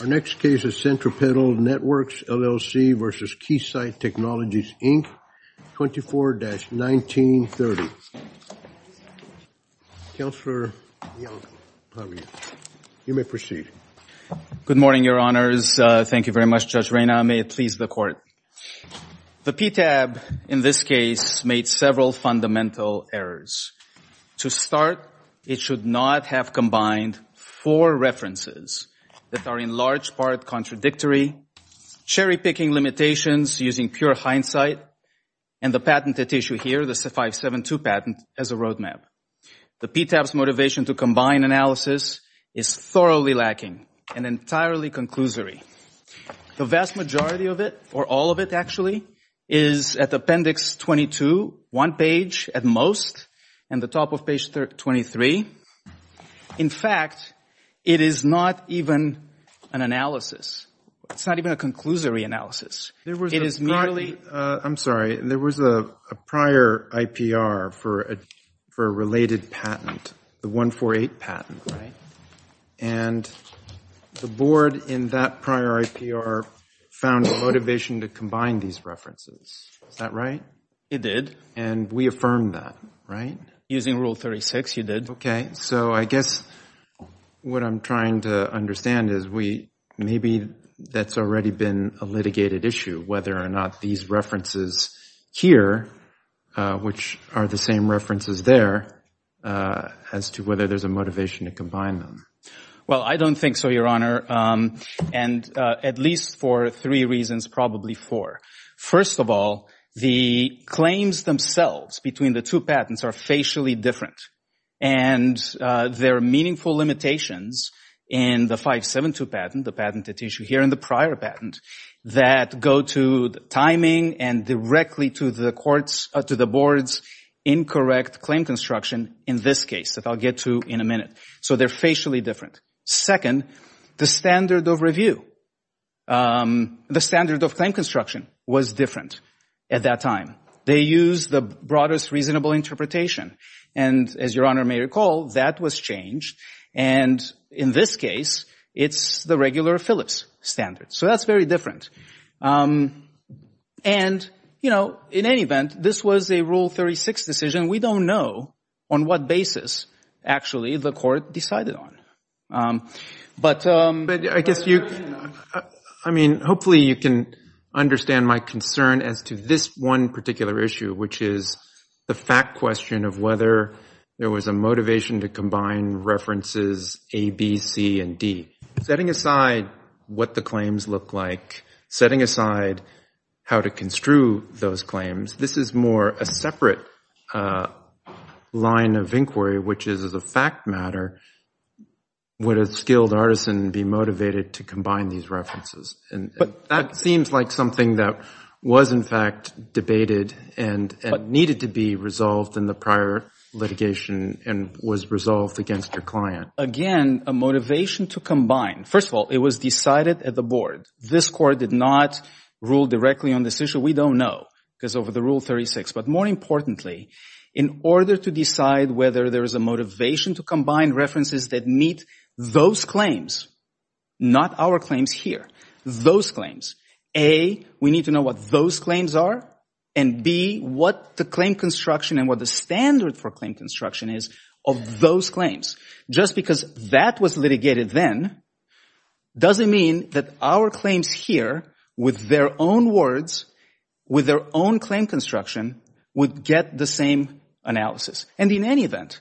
Our next case is Centripetal Networks, LLC v. Keysight Technologies, Inc., 24-1930. Counselor, you may proceed. Good morning, Your Honors. Thank you very much, Judge Reyna. May it please the Court. The PTAB, in this case, made several fundamental errors. To start, it should not have combined four references that are in large part contradictory, cherry-picking limitations using pure hindsight, and the patented issue here, the 572 patent, as a roadmap. The PTAB's motivation to combine analysis is thoroughly lacking and entirely conclusory. The vast majority of it, or all of it, actually, is at Appendix 22, one page at most, and the top of Page 23. In fact, it is not even an analysis. It's not even a conclusory analysis. It is merely— I'm sorry. There was a prior IPR for a related patent, the 148 patent, right? And the Board, in that prior IPR, found a motivation to combine these references. Is that right? It did. And we affirmed that, right? Using Rule 36, you did. Okay. So I guess what I'm trying to understand is we—maybe that's already been a litigated issue, whether or not these references here, which are the same references there, as to whether there's a motivation to combine them. Well, I don't think so, Your Honor, and at least for three reasons, probably four. First of all, the claims themselves between the two patents are facially different, and there are meaningful limitations in the 572 patent, the patented issue here, and the prior patent that go to the timing and directly to the Board's incorrect claim construction in this case that I'll get to in a minute. So they're facially different. Second, the standard of review, the standard of claim construction was different at that time. They used the broadest reasonable interpretation, and as Your Honor may recall, that was changed. And in this case, it's the regular Phillips standard. So that's very different. And, you know, in any event, this was a Rule 36 decision. We don't know on what basis, actually, the Court decided on. But— But I guess you—I mean, hopefully you can understand my concern as to this one particular issue, which is the fact question of whether there was a motivation to combine references A, B, C, and D. Setting aside what the claims look like, setting aside how to construe those claims, this is more a separate line of inquiry, which is, as a fact matter, would a skilled artisan be motivated to combine these references? And that seems like something that was, in fact, debated and needed to be resolved in the prior litigation and was resolved against your client. Again, a motivation to combine. First of all, it was decided at the Board. This Court did not rule directly on this issue. We don't know because of the Rule 36. But more importantly, in order to decide whether there is a motivation to combine references that meet those claims, not our claims here, those claims, A, we need to know what those claims are, and B, what the claim construction and what the standard for claim construction is of those claims. Just because that was litigated then doesn't mean that our claims here with their own words, with their own claim construction, would get the same analysis. And in any event,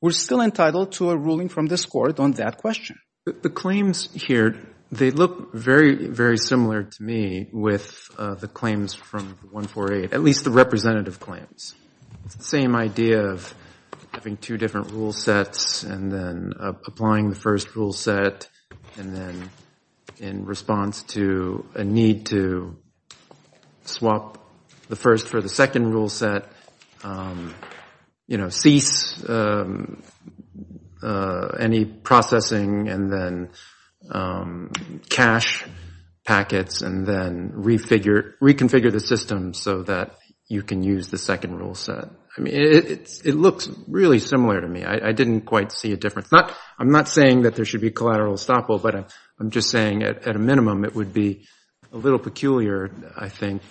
we're still entitled to a ruling from this Court on that question. The claims here, they look very, very similar to me with the claims from 148, at least the representative claims. It's the same idea of having two different rule sets and then applying the first rule set and then in response to a need to swap the first for the second rule set, you know, cease any processing and then cache packets and then reconfigure the system so that you can use the second rule set. I mean, it looks really similar to me. I didn't quite see a difference. I'm not saying that there should be collateral estoppel, but I'm just saying at a minimum it would be a little peculiar, I think,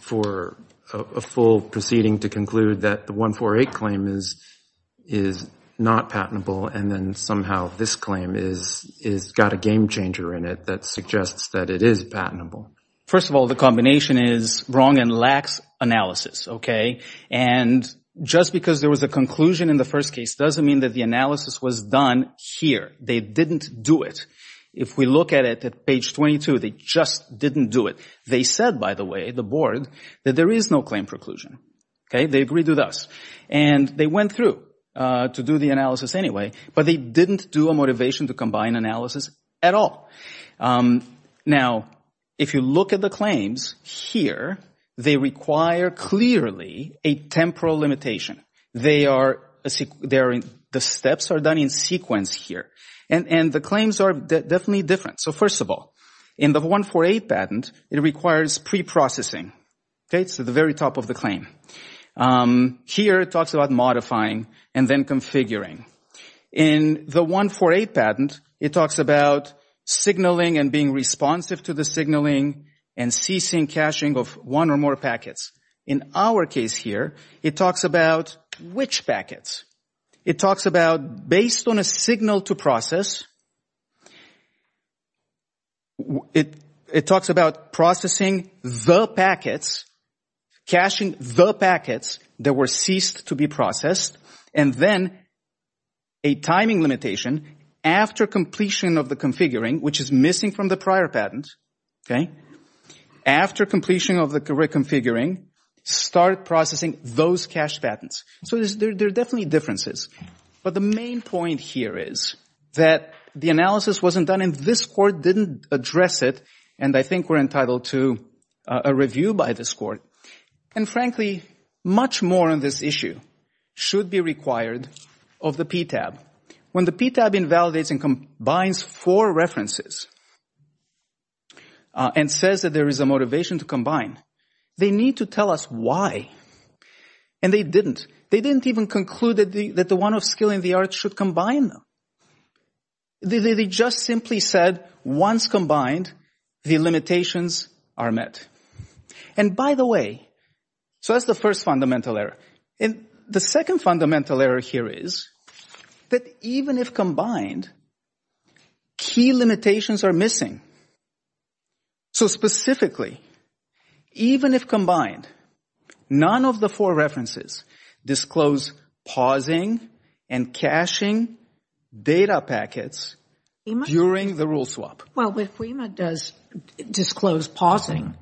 for a full proceeding to conclude that the 148 claim is not patentable and then somehow this claim has got a game changer in it that suggests that it is patentable. First of all, the combination is wrong and lacks analysis, okay? And just because there was a conclusion in the first case doesn't mean that the analysis was done here. They didn't do it. If we look at it at page 22, they just didn't do it. They said, by the way, the Board, that there is no claim preclusion, okay? They agreed with us. And they went through to do the analysis anyway, but they didn't do a motivation to combine analysis at all. Now, if you look at the claims here, they require clearly a temporal limitation. They are – the steps are done in sequence here. And the claims are definitely different. So first of all, in the 148 patent, it requires preprocessing, okay? So the very top of the claim. Here it talks about modifying and then configuring. In the 148 patent, it talks about signaling and being responsive to the signaling and ceasing caching of one or more packets. In our case here, it talks about which packets. It talks about based on a signal to process, it talks about processing the packets, caching the packets that were ceased to be processed, and then a timing limitation after completion of the configuring, which is missing from the prior patent, okay? After completion of the configuring, start processing those cached patents. So there are definitely differences. But the main point here is that the analysis wasn't done and this Court didn't address it, and I think we're entitled to a review by this Court. And frankly, much more on this issue should be required of the PTAB. When the PTAB invalidates and combines four references and says that there is a motivation to combine, they need to tell us why. And they didn't. They didn't even conclude that the one of skill and the art should combine them. They just simply said once combined, the limitations are met. And by the way, so that's the first fundamental error. And the second fundamental error here is that even if combined, key limitations are missing. So specifically, even if combined, none of the four references disclose pausing and caching data packets during the rule swap. Well, HWEMA does disclose pausing.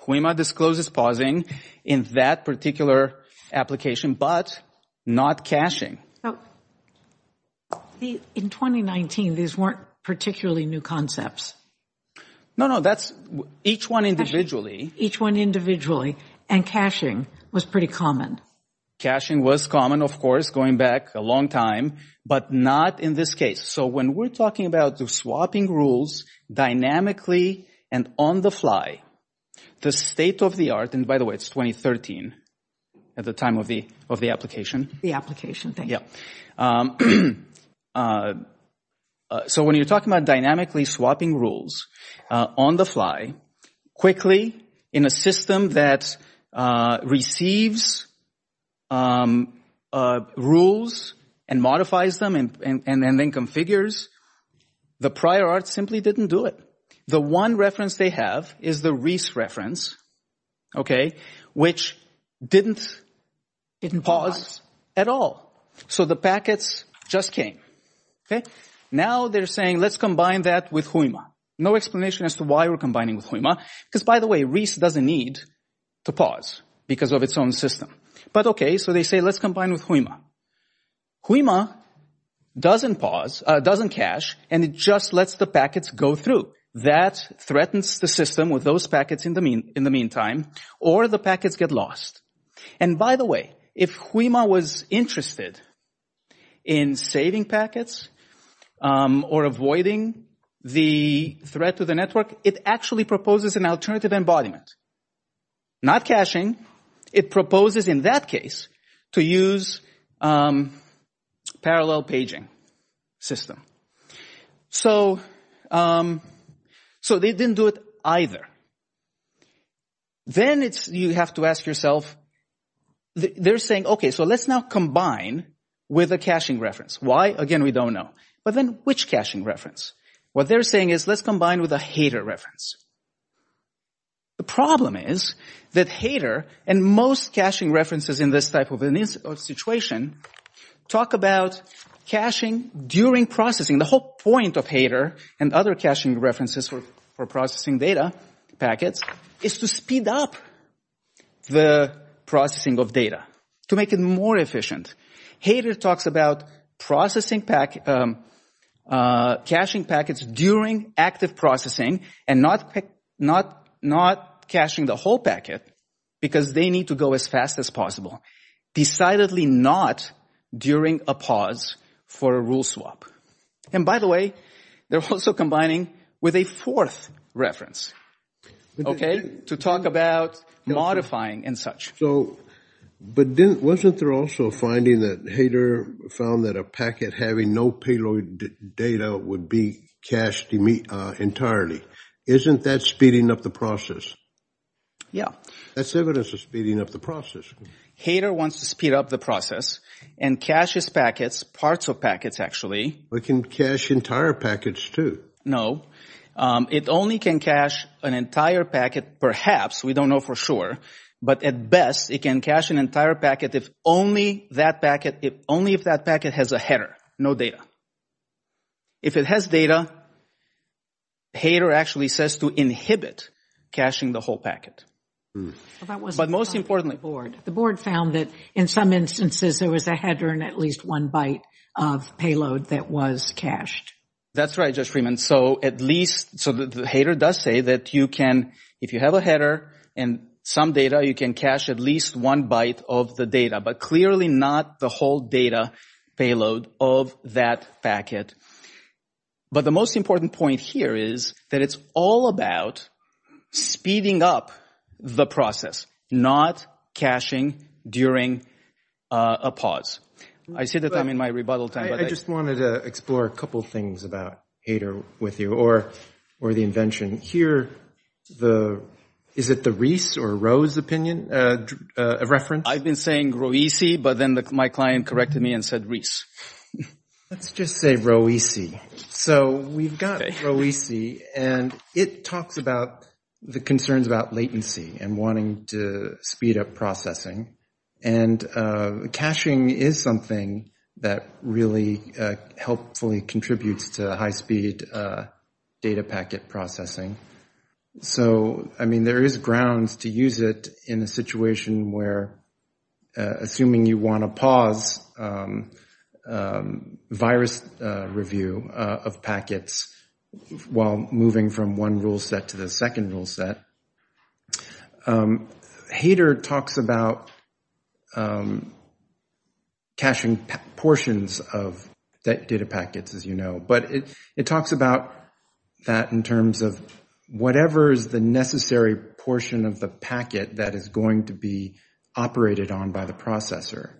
HWEMA discloses pausing in that particular application, but not caching. In 2019, these weren't particularly new concepts. No, no, that's each one individually. Each one individually. And caching was pretty common. Caching was common, of course, going back a long time, but not in this case. So when we're talking about swapping rules dynamically and on the fly, the state of the art, and by the way, it's 2013 at the time of the application. The application, thank you. So when you're talking about dynamically swapping rules on the fly, quickly in a system that saves rules and modifies them and then configures, the prior art simply didn't do it. The one reference they have is the RIS reference, which didn't pause at all. So the packets just came. Now they're saying, let's combine that with HWEMA. No explanation as to why we're combining with HWEMA, because by the way, RIS doesn't need to pause because of its own system. But OK, so they say, let's combine with HWEMA. HWEMA doesn't pause, doesn't cache, and it just lets the packets go through. That threatens the system with those packets in the meantime, or the packets get lost. And by the way, if HWEMA was interested in saving packets or avoiding the threat to the system, not caching, it proposes in that case to use parallel paging system. So they didn't do it either. Then you have to ask yourself, they're saying, OK, so let's now combine with a caching reference. Why? Again, we don't know. But then which caching reference? What they're saying is, let's combine with a hater reference. The problem is that hater, and most caching references in this type of situation, talk about caching during processing. The whole point of hater and other caching references for processing data packets is to speed up the processing of data, to make it more efficient. Hater talks about caching packets during active processing and not caching the whole packet because they need to go as fast as possible, decidedly not during a pause for a rule swap. And by the way, they're also combining with a fourth reference to talk about modifying and such. So, but wasn't there also a finding that hater found that a packet having no payload data would be cached entirely? Isn't that speeding up the process? Yeah. That's evidence of speeding up the process. Hater wants to speed up the process and caches packets, parts of packets actually. It can cache entire packets too. No. It only can cache an entire packet, perhaps, we don't know for sure. But at best, it can cache an entire packet if only that packet, if only if that packet has a header, no data. If it has data, hater actually says to inhibit caching the whole packet. But most importantly. The board found that in some instances, there was a header and at least one byte of payload that was cached. That's right, Judge Freeman. And so at least, so the hater does say that you can, if you have a header and some data, you can cache at least one byte of the data. But clearly not the whole data payload of that packet. But the most important point here is that it's all about speeding up the process, not caching during a pause. I see that I'm in my rebuttal time. I just wanted to explore a couple things about hater with you or the invention. Here, the, is it the Reese or Rose opinion of reference? I've been saying Roesi, but then my client corrected me and said Reese. Let's just say Roesi. So we've got Roesi and it talks about the concerns about latency and wanting to speed up processing. And caching is something that really helpfully contributes to high-speed data packet processing. So I mean, there is grounds to use it in a situation where, assuming you want to pause virus review of packets while moving from one rule set to the second rule set. Hater talks about caching portions of data packets, as you know, but it talks about that in terms of whatever is the necessary portion of the packet that is going to be operated on by the processor.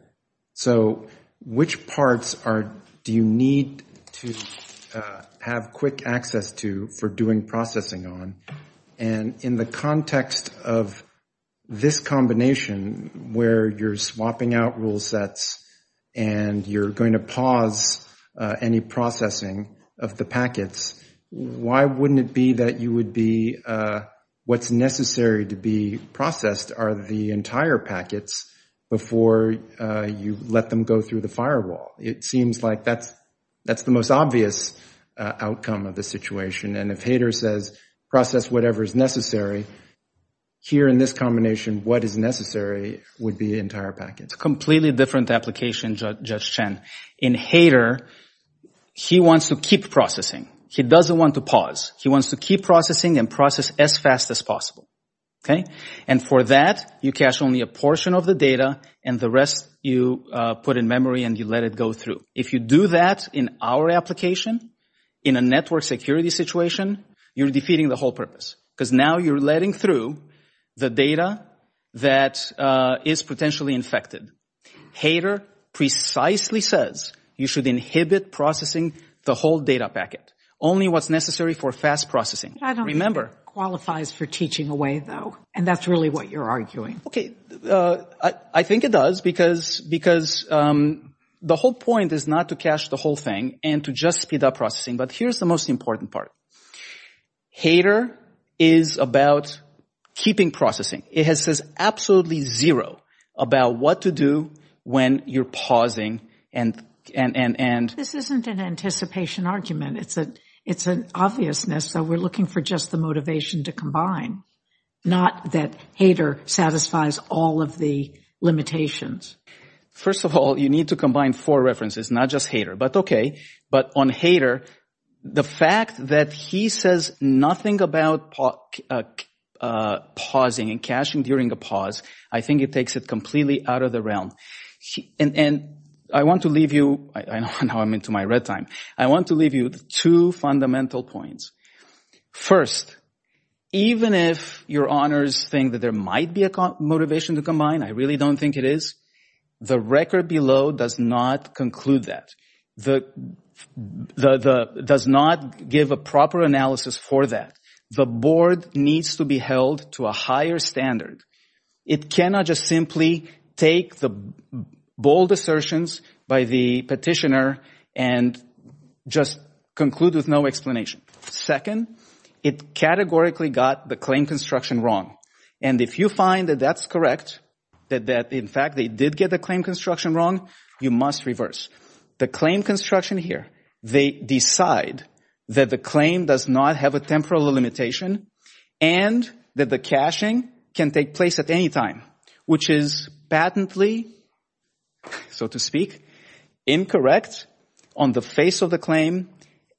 So which parts do you need to have quick access to for doing processing on? And in the context of this combination where you're swapping out rule sets and you're going to pause any processing of the packets, why wouldn't it be that you would be, what's necessary to be processed are the entire packets before you let them go through the firewall. It seems like that's the most obvious outcome of the situation. And if Hater says process whatever is necessary, here in this combination, what is necessary would be entire packets. It's a completely different application, Judge Chen. In Hater, he wants to keep processing. He doesn't want to pause. He wants to keep processing and process as fast as possible. And for that, you cache only a portion of the data and the rest you put in memory and you let it go through. If you do that in our application, in a network security situation, you're defeating the whole purpose because now you're letting through the data that is potentially infected. Hater precisely says you should inhibit processing the whole data packet, only what's necessary for fast processing. I don't think it qualifies for teaching away, though. And that's really what you're arguing. Okay. I think it does because the whole point is not to cache the whole thing and to just speed up processing. But here's the most important part. Hater is about keeping processing. It has said absolutely zero about what to do when you're pausing and... This isn't an anticipation argument. It's an obviousness that we're looking for just the motivation to combine. Not that hater satisfies all of the limitations. First of all, you need to combine four references, not just hater, but okay. But on hater, the fact that he says nothing about pausing and caching during a pause, I think it takes it completely out of the realm. And I want to leave you, I know now I'm into my red time, I want to leave you with two fundamental points. First, even if your honors think that there might be a motivation to combine, I really don't think it is. The record below does not conclude that. The... Does not give a proper analysis for that. The board needs to be held to a higher standard. It cannot just simply take the bold assertions by the petitioner and just conclude with no explanation. Second, it categorically got the claim construction wrong. And if you find that that's correct, that in fact they did get the claim construction wrong, you must reverse. The claim construction here, they decide that the claim does not have a temporal limitation and that the caching can take place at any time, which is patently, so to speak, incorrect That on the face of the claim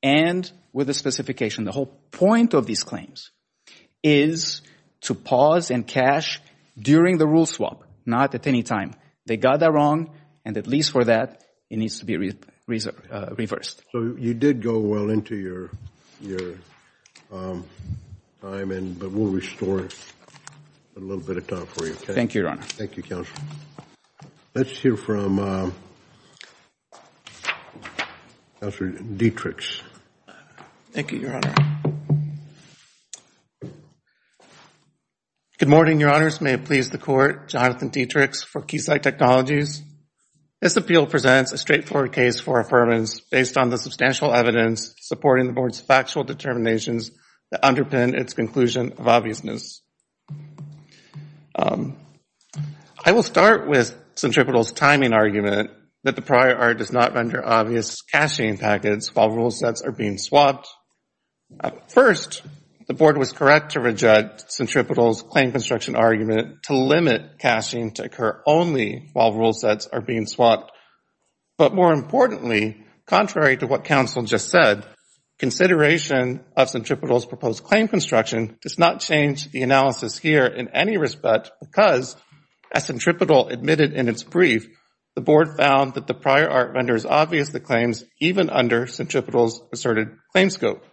and with the specification, the whole point of these claims is to pause and cache during the rule swap, not at any time. They got that wrong, and at least for that, it needs to be reversed. So you did go well into your time, but we'll restore a little bit of time for you, okay? Thank you, Your Honor. Thank you, Counselor. Let's hear from Counselor Dietrich. Thank you, Your Honor. Good morning, Your Honors. May it please the Court, Jonathan Dietrich for Keysight Technologies. This appeal presents a straightforward case for affirmance based on the substantial evidence supporting the board's factual determinations that underpin its conclusion of obviousness. I will start with Centripetal's timing argument that the prior art does not render obvious caching packets while rule sets are being swapped. First, the board was correct to reject Centripetal's claim construction argument to limit caching to occur only while rule sets are being swapped. But more importantly, contrary to what Counsel just said, consideration of Centripetal's proposed claim construction does not change the analysis here in any respect because as Centripetal admitted in its brief, the board found that the prior art renders obvious the claims even under Centripetal's asserted claim scope.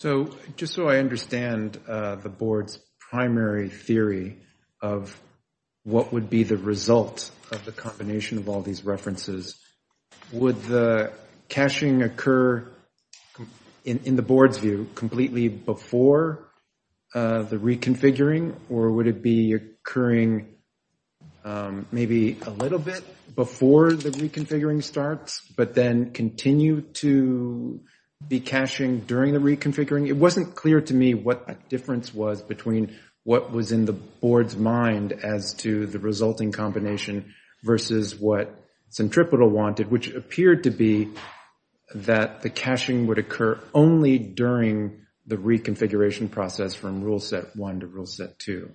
So just so I understand the board's primary theory of what would be the result of the combination of all these references, would the caching occur in the board's view completely before the reconfiguring or would it be occurring maybe a little bit before the reconfiguring starts but then continue to be caching during the reconfiguring? It wasn't clear to me what the difference was between what was in the board's mind as to the resulting combination versus what Centripetal wanted, which appeared to be that the caching would occur only during the reconfiguration process from rule set one to rule set two.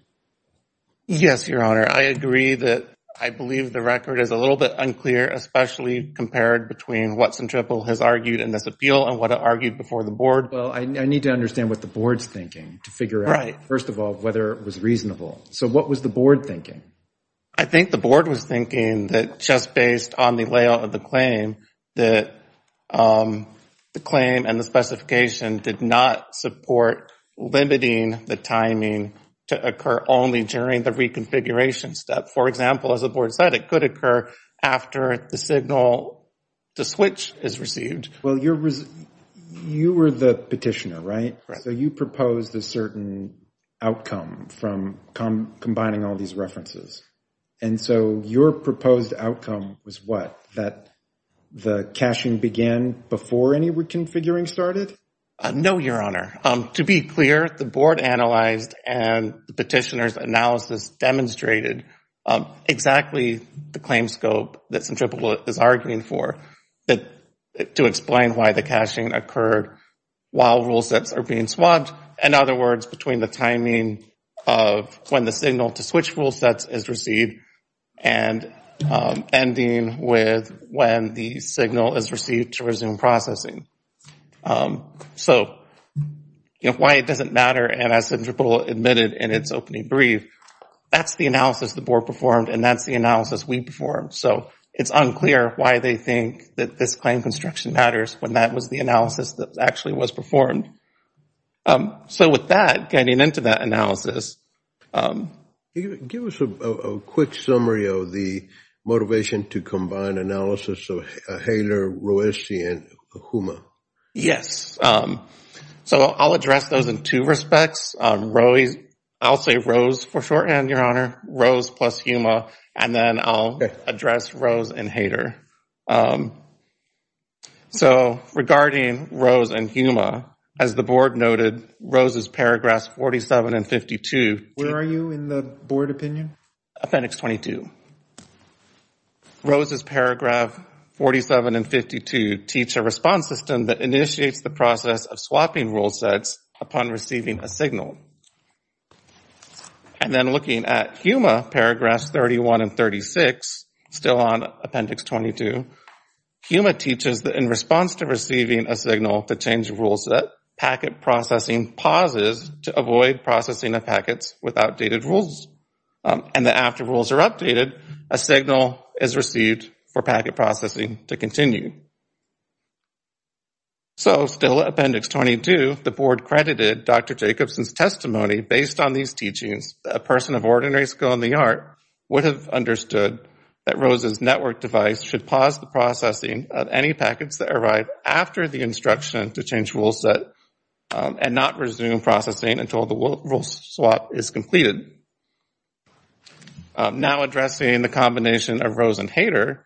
Yes, Your Honor, I agree that I believe the record is a little bit unclear, especially compared between what Centripetal has argued in this appeal and what it argued before the Well, I need to understand what the board's thinking to figure out, first of all, whether it was reasonable. So what was the board thinking? I think the board was thinking that just based on the layout of the claim, that the claim and the specification did not support limiting the timing to occur only during the reconfiguration step. For example, as the board said, it could occur after the signal to switch is received. Well, you were the petitioner, right? So you proposed a certain outcome from combining all these references. And so your proposed outcome was what, that the caching began before any reconfiguring started? No, Your Honor. To be clear, the board analyzed and the petitioner's analysis demonstrated exactly the claim scope that Centripetal is arguing for to explain why the caching occurred while rule sets are In other words, between the timing of when the signal to switch rule sets is received and ending with when the signal is received to resume processing. So why it doesn't matter, and as Centripetal admitted in its opening brief, that's the analysis the board performed and that's the analysis we performed. So it's unclear why they think that this claim construction matters when that was the analysis that actually was performed. So with that, getting into that analysis. Give us a quick summary of the motivation to combine analysis of HALER, ROESI, and HUMA. Yes. So I'll address those in two respects. I'll say ROES for shorthand, Your Honor, ROES plus HUMA, and then I'll address ROES and So regarding ROES and HUMA, as the board noted, ROES is paragraphs 47 and 52. Where are you in the board opinion? Appendix 22. ROES is paragraph 47 and 52, teach a response system that initiates the process of swapping rule sets upon receiving a signal. And then looking at HUMA, paragraphs 31 and 36, still on Appendix 22, HUMA teaches that in response to receiving a signal to change rule set, packet processing pauses to avoid processing of packets with outdated rules. And that after rules are updated, a signal is received for packet processing to continue. So, still Appendix 22, the board credited Dr. Jacobson's testimony based on these teachings. A person of ordinary skill in the art would have understood that ROES's network device should pause the processing of any packets that arrive after the instruction to change rule set and not resume processing until the rule swap is completed. Now, addressing the combination of ROES and HATER,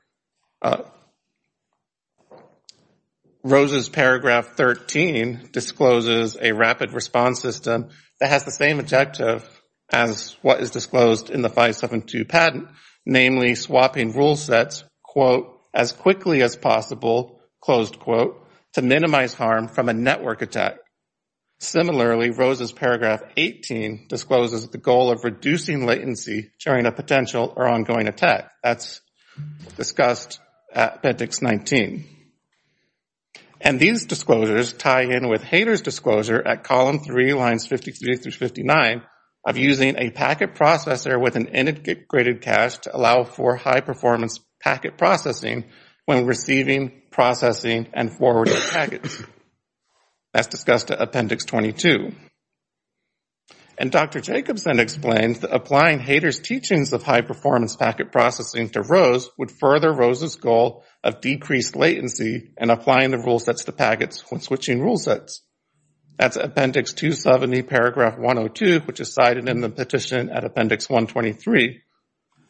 ROES's paragraph 13 discloses a rapid response system that has the same objective as what is disclosed in the 572 patent, namely swapping rule sets, quote, as quickly as possible, closed quote, to minimize harm from a network attack. Similarly, ROES's paragraph 18 discloses the goal of reducing latency during a potential or ongoing attack. That's discussed at Appendix 19. And these disclosures tie in with HATER's disclosure at column three, lines 53 through 59, of using a packet processor with an integrated cache to allow for high performance packet processing when receiving, processing, and forwarding packets. That's discussed at Appendix 22. And Dr. Jacobson explains that applying HATER's teachings of high performance packet processing to ROES would further ROES's goal of decreased latency and applying the rule sets to packets when switching rule sets. That's Appendix 270, paragraph 102, which is cited in the petition at Appendix 123.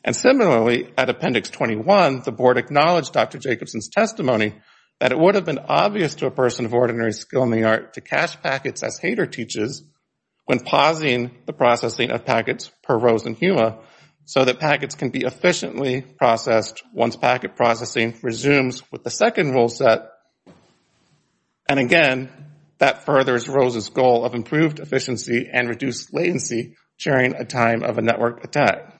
And similarly, at Appendix 21, the board acknowledged Dr. Jacobson's testimony that it would have been obvious to a person of ordinary skill in the art to cache packets as HATER teaches when pausing the processing of packets per ROES and HUMA so that packets can be efficiently processed once packet processing resumes with the second rule set. And again, that furthers ROES's goal of improved efficiency and reduced latency during a time of a network attack.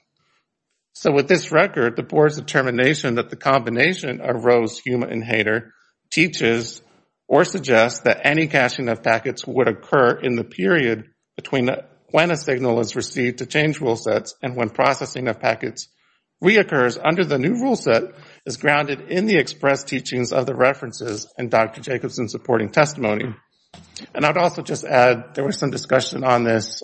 So with this record, the board's determination that the combination of ROES, HUMA, and HATER teaches or suggests that any caching of packets would occur in the period between when a signal is received to change rule sets and when processing of packets reoccurs under the new rule set is grounded in the expressed teachings of the references and Dr. Jacobson's supporting testimony. And I'd also just add there was some discussion on this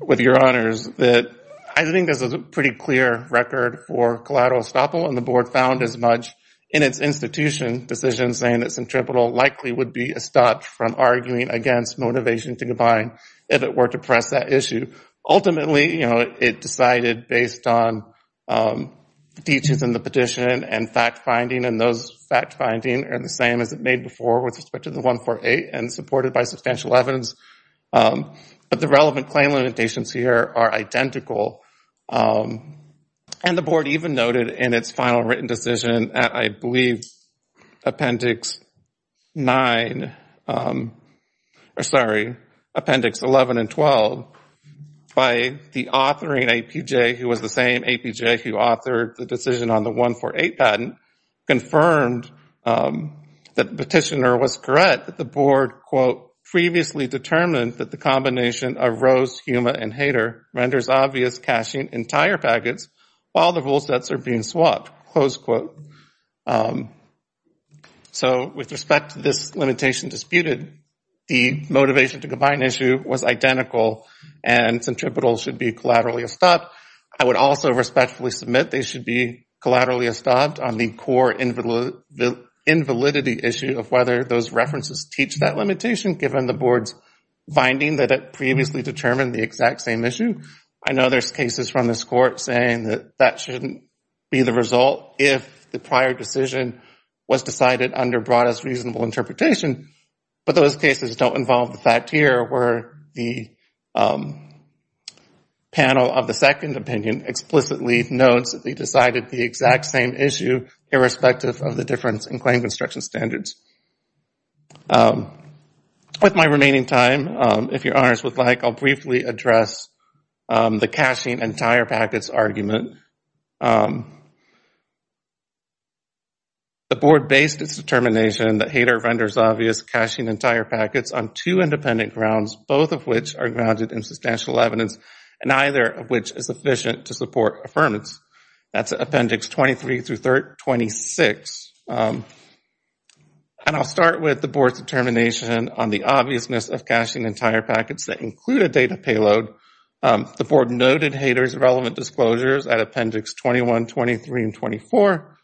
with your honors that I think this was a pretty clear record for collateral estoppel and the board found as much in its institution decision saying that centripetal likely would be a stop from arguing against motivation to combine if it were to press that issue. Ultimately, you know, it decided based on the teachings in the petition and fact-finding and those fact-finding are the same as it made before with respect to the 148 and supported by substantial evidence. But the relevant claim limitations here are identical. And the board even noted in its final written decision at I believe appendix 9, or sorry, appendix 11 and 12, by the authoring APJ who was the same APJ who authored the decision on the 148 patent, confirmed that the petitioner was correct that the board, quote, previously determined that the combination of Rose, Huma, and Hader renders obvious caching entire packets while the rule sets are being swapped, close quote. So with respect to this limitation disputed, the motivation to combine issue was identical and centripetal should be collaterally estopped. I would also respectfully submit they should be collaterally estopped on the core invalidity issue of whether those references teach that limitation given the board's finding that it previously determined the exact same issue. I know there's cases from this court saying that that shouldn't be the result if the prior decision was decided under broadest reasonable interpretation. But those cases don't involve the fact here where the panel of the second opinion explicitly decided the exact same issue irrespective of the difference in claim construction standards. With my remaining time, if your honors would like, I'll briefly address the caching entire packets argument. The board based its determination that Hader renders obvious caching entire packets on two independent grounds, both of which are grounded in substantial evidence and neither of which is efficient to support affirmance. That's appendix 23 through 26. And I'll start with the board's determination on the obviousness of caching entire packets that include a data payload. The board noted Hader's relevant disclosures at appendix 21, 23, and 24.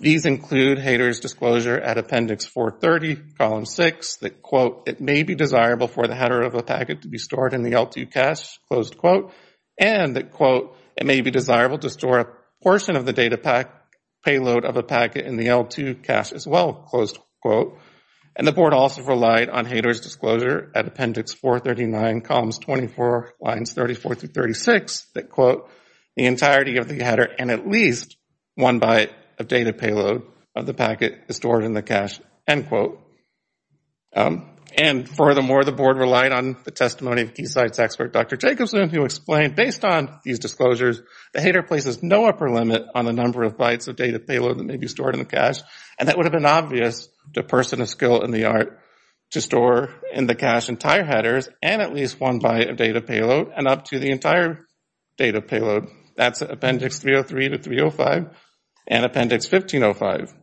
These include Hader's disclosure at appendix 430, column 6 that, quote, it may be desirable for the header of a packet to be stored in the L2 cache, closed quote, and that, quote, it may be desirable to store a portion of the data payload of a packet in the L2 cache as well, closed quote. And the board also relied on Hader's disclosure at appendix 439, columns 24, lines 34 through 36 that, quote, the entirety of the header and at least one byte of data payload of the packet is stored in the cache, end quote. And furthermore, the board relied on the testimony of Keysight's expert, Dr. Jacobson, who explained, based on these disclosures, that Hader places no upper limit on the number of bytes of data payload that may be stored in the cache, and that would have been obvious to a person of skill and the art to store in the cache entire headers and at least one byte of data payload and up to the entire data payload. That's appendix 303 to 305 and appendix 1505.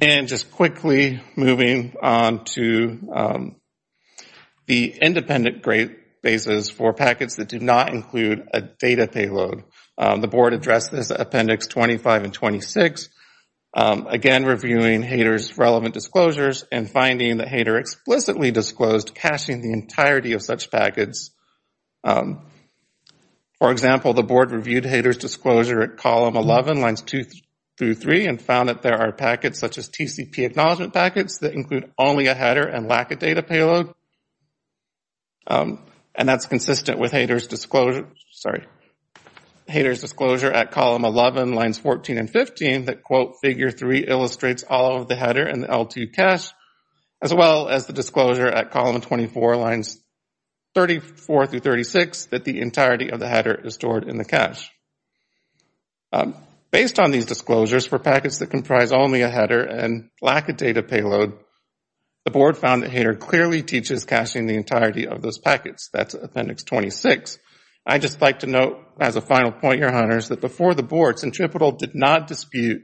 And just quickly moving on to the independent databases for packets that do not include a data payload. The board addressed this at appendix 25 and 26, again reviewing Hader's relevant disclosures and finding that Hader explicitly disclosed caching the entirety of such packets. For example, the board reviewed Hader's disclosure at column 11, lines 2 through 3, and found that there are packets such as TCP acknowledgment packets that include only a header and lack of data payload. And that's consistent with Hader's disclosure at column 11, lines 14 and 15 that, quote, figure 3 illustrates all of the header and L2 cache, as well as the disclosure at column 24, lines 34 through 36, that the entirety of the header is stored in the cache. Based on these disclosures for packets that comprise only a header and lack of data payload, the board found that Hader clearly teaches caching the entirety of those packets. That's appendix 26. I'd just like to note as a final point, your honors, that before the board, Centripetal did not dispute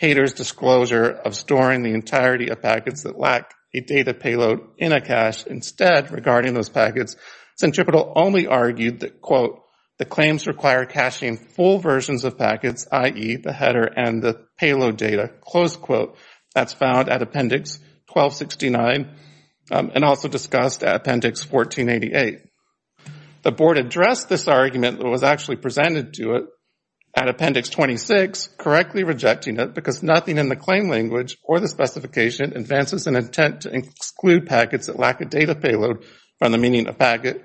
Hader's disclosure of storing the entirety of packets that lack a data payload in a cache. Instead, regarding those packets, Centripetal only argued that, quote, the claims require caching full versions of packets, i.e., the header and the payload data, close quote. That's found at appendix 1269 and also discussed at appendix 1488. The board addressed this argument that was actually presented to it at appendix 26, correctly rejecting it because nothing in the claim language or the specification advances an intent to exclude packets that lack a data payload from the meaning of packet.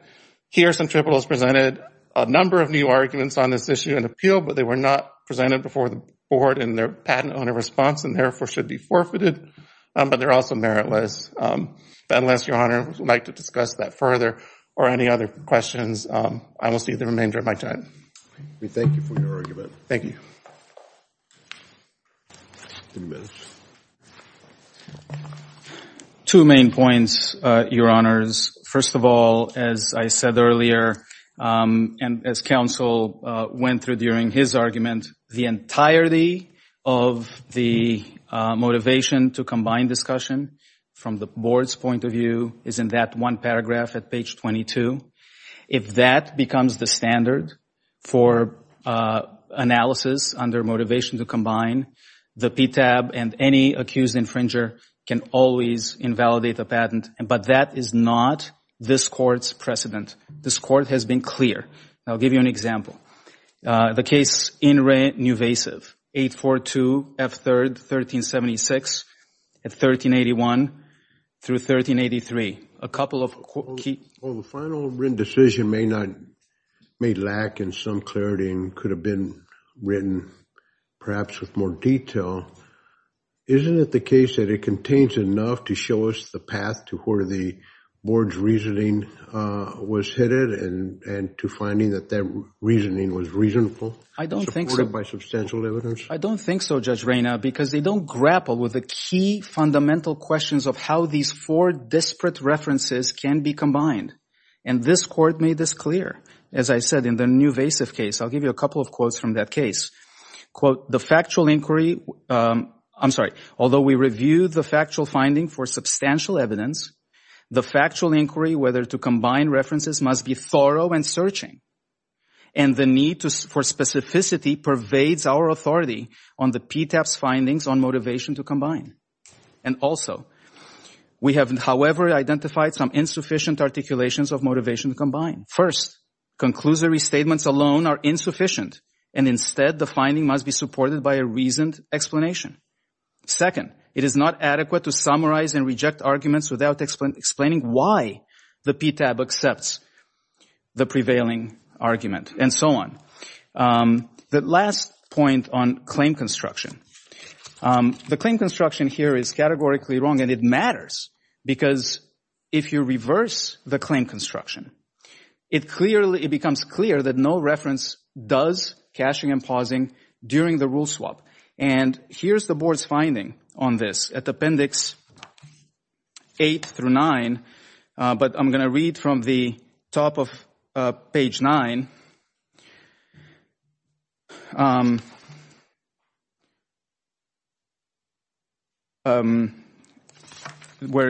Here, Centripetal has presented a number of new arguments on this issue in appeal, but they were not presented before the board in their patent owner response and therefore should be forfeited. But they're also meritless. But unless your honors would like to discuss that further or any other questions, I will see the remainder of my time. Thank you for your argument. Thank you. Two main points, your honors. First of all, as I said earlier and as counsel went through during his argument, the entirety of the motivation to combine discussion from the board's point of view is in that one paragraph at page 22. If that becomes the standard for analysis under motivation to combine, the PTAB and any accused infringer can always invalidate the patent. But that is not this court's precedent. This court has been clear. I'll give you an example. The case in Renuvasiv, 842 F. 3rd, 1376, 1381 through 1383. Well, the final written decision may lack in some clarity and could have been written perhaps with more detail. Isn't it the case that it contains enough to show us the path to where the board's reasoning was headed and to finding that their reasoning was reasonable? I don't think so. Supported by substantial evidence? I don't think so, Judge Reina, because they don't grapple with the key fundamental questions of how these four disparate references can be combined. And this court made this clear. As I said, in the Renuvasiv case, I'll give you a couple of quotes from that case. Quote, the factual inquiry, I'm sorry. Although we reviewed the factual finding for substantial evidence, the factual inquiry whether to combine references must be thorough and searching. And the need for specificity pervades our authority on the PTAB's findings on motivation to combine. And also, we have, however, identified some insufficient articulations of motivation to combine. First, conclusory statements alone are insufficient. And instead, the finding must be supported by a reasoned explanation. Second, it is not adequate to summarize and reject arguments without explaining why the PTAB accepts the prevailing argument and so on. The last point on claim construction. The claim construction here is categorically wrong and it matters because if you reverse the claim construction, it becomes clear that no reference does caching and pausing during the rule swap. And here's the board's finding on this at Appendix 8 through 9. But I'm going to read from the top of page 9. Where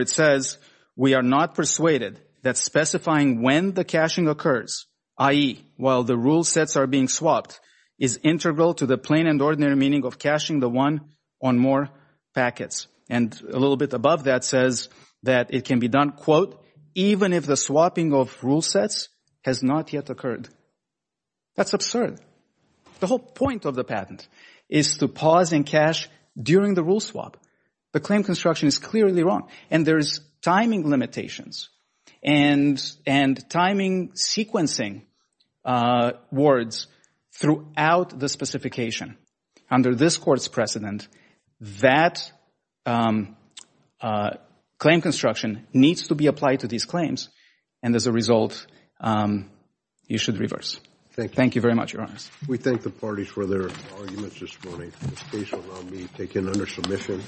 it says, we are not persuaded that specifying when the caching occurs, i.e., while the rule sets are being swapped, is integral to the plain and ordinary meaning of caching the one on more packets. And a little bit above that says that it can be done, quote, even if the swapping of rule sets has not yet occurred. That's absurd. The whole point of the patent is to pause and cache during the rule swap. The claim construction is clearly wrong. And there's timing limitations and timing sequencing words throughout the specification. Under this Court's precedent, that claim construction needs to be applied to these claims. And as a result, you should reverse. Thank you very much, Your Honor. We thank the parties for their arguments this morning. This case will now be taken under submission.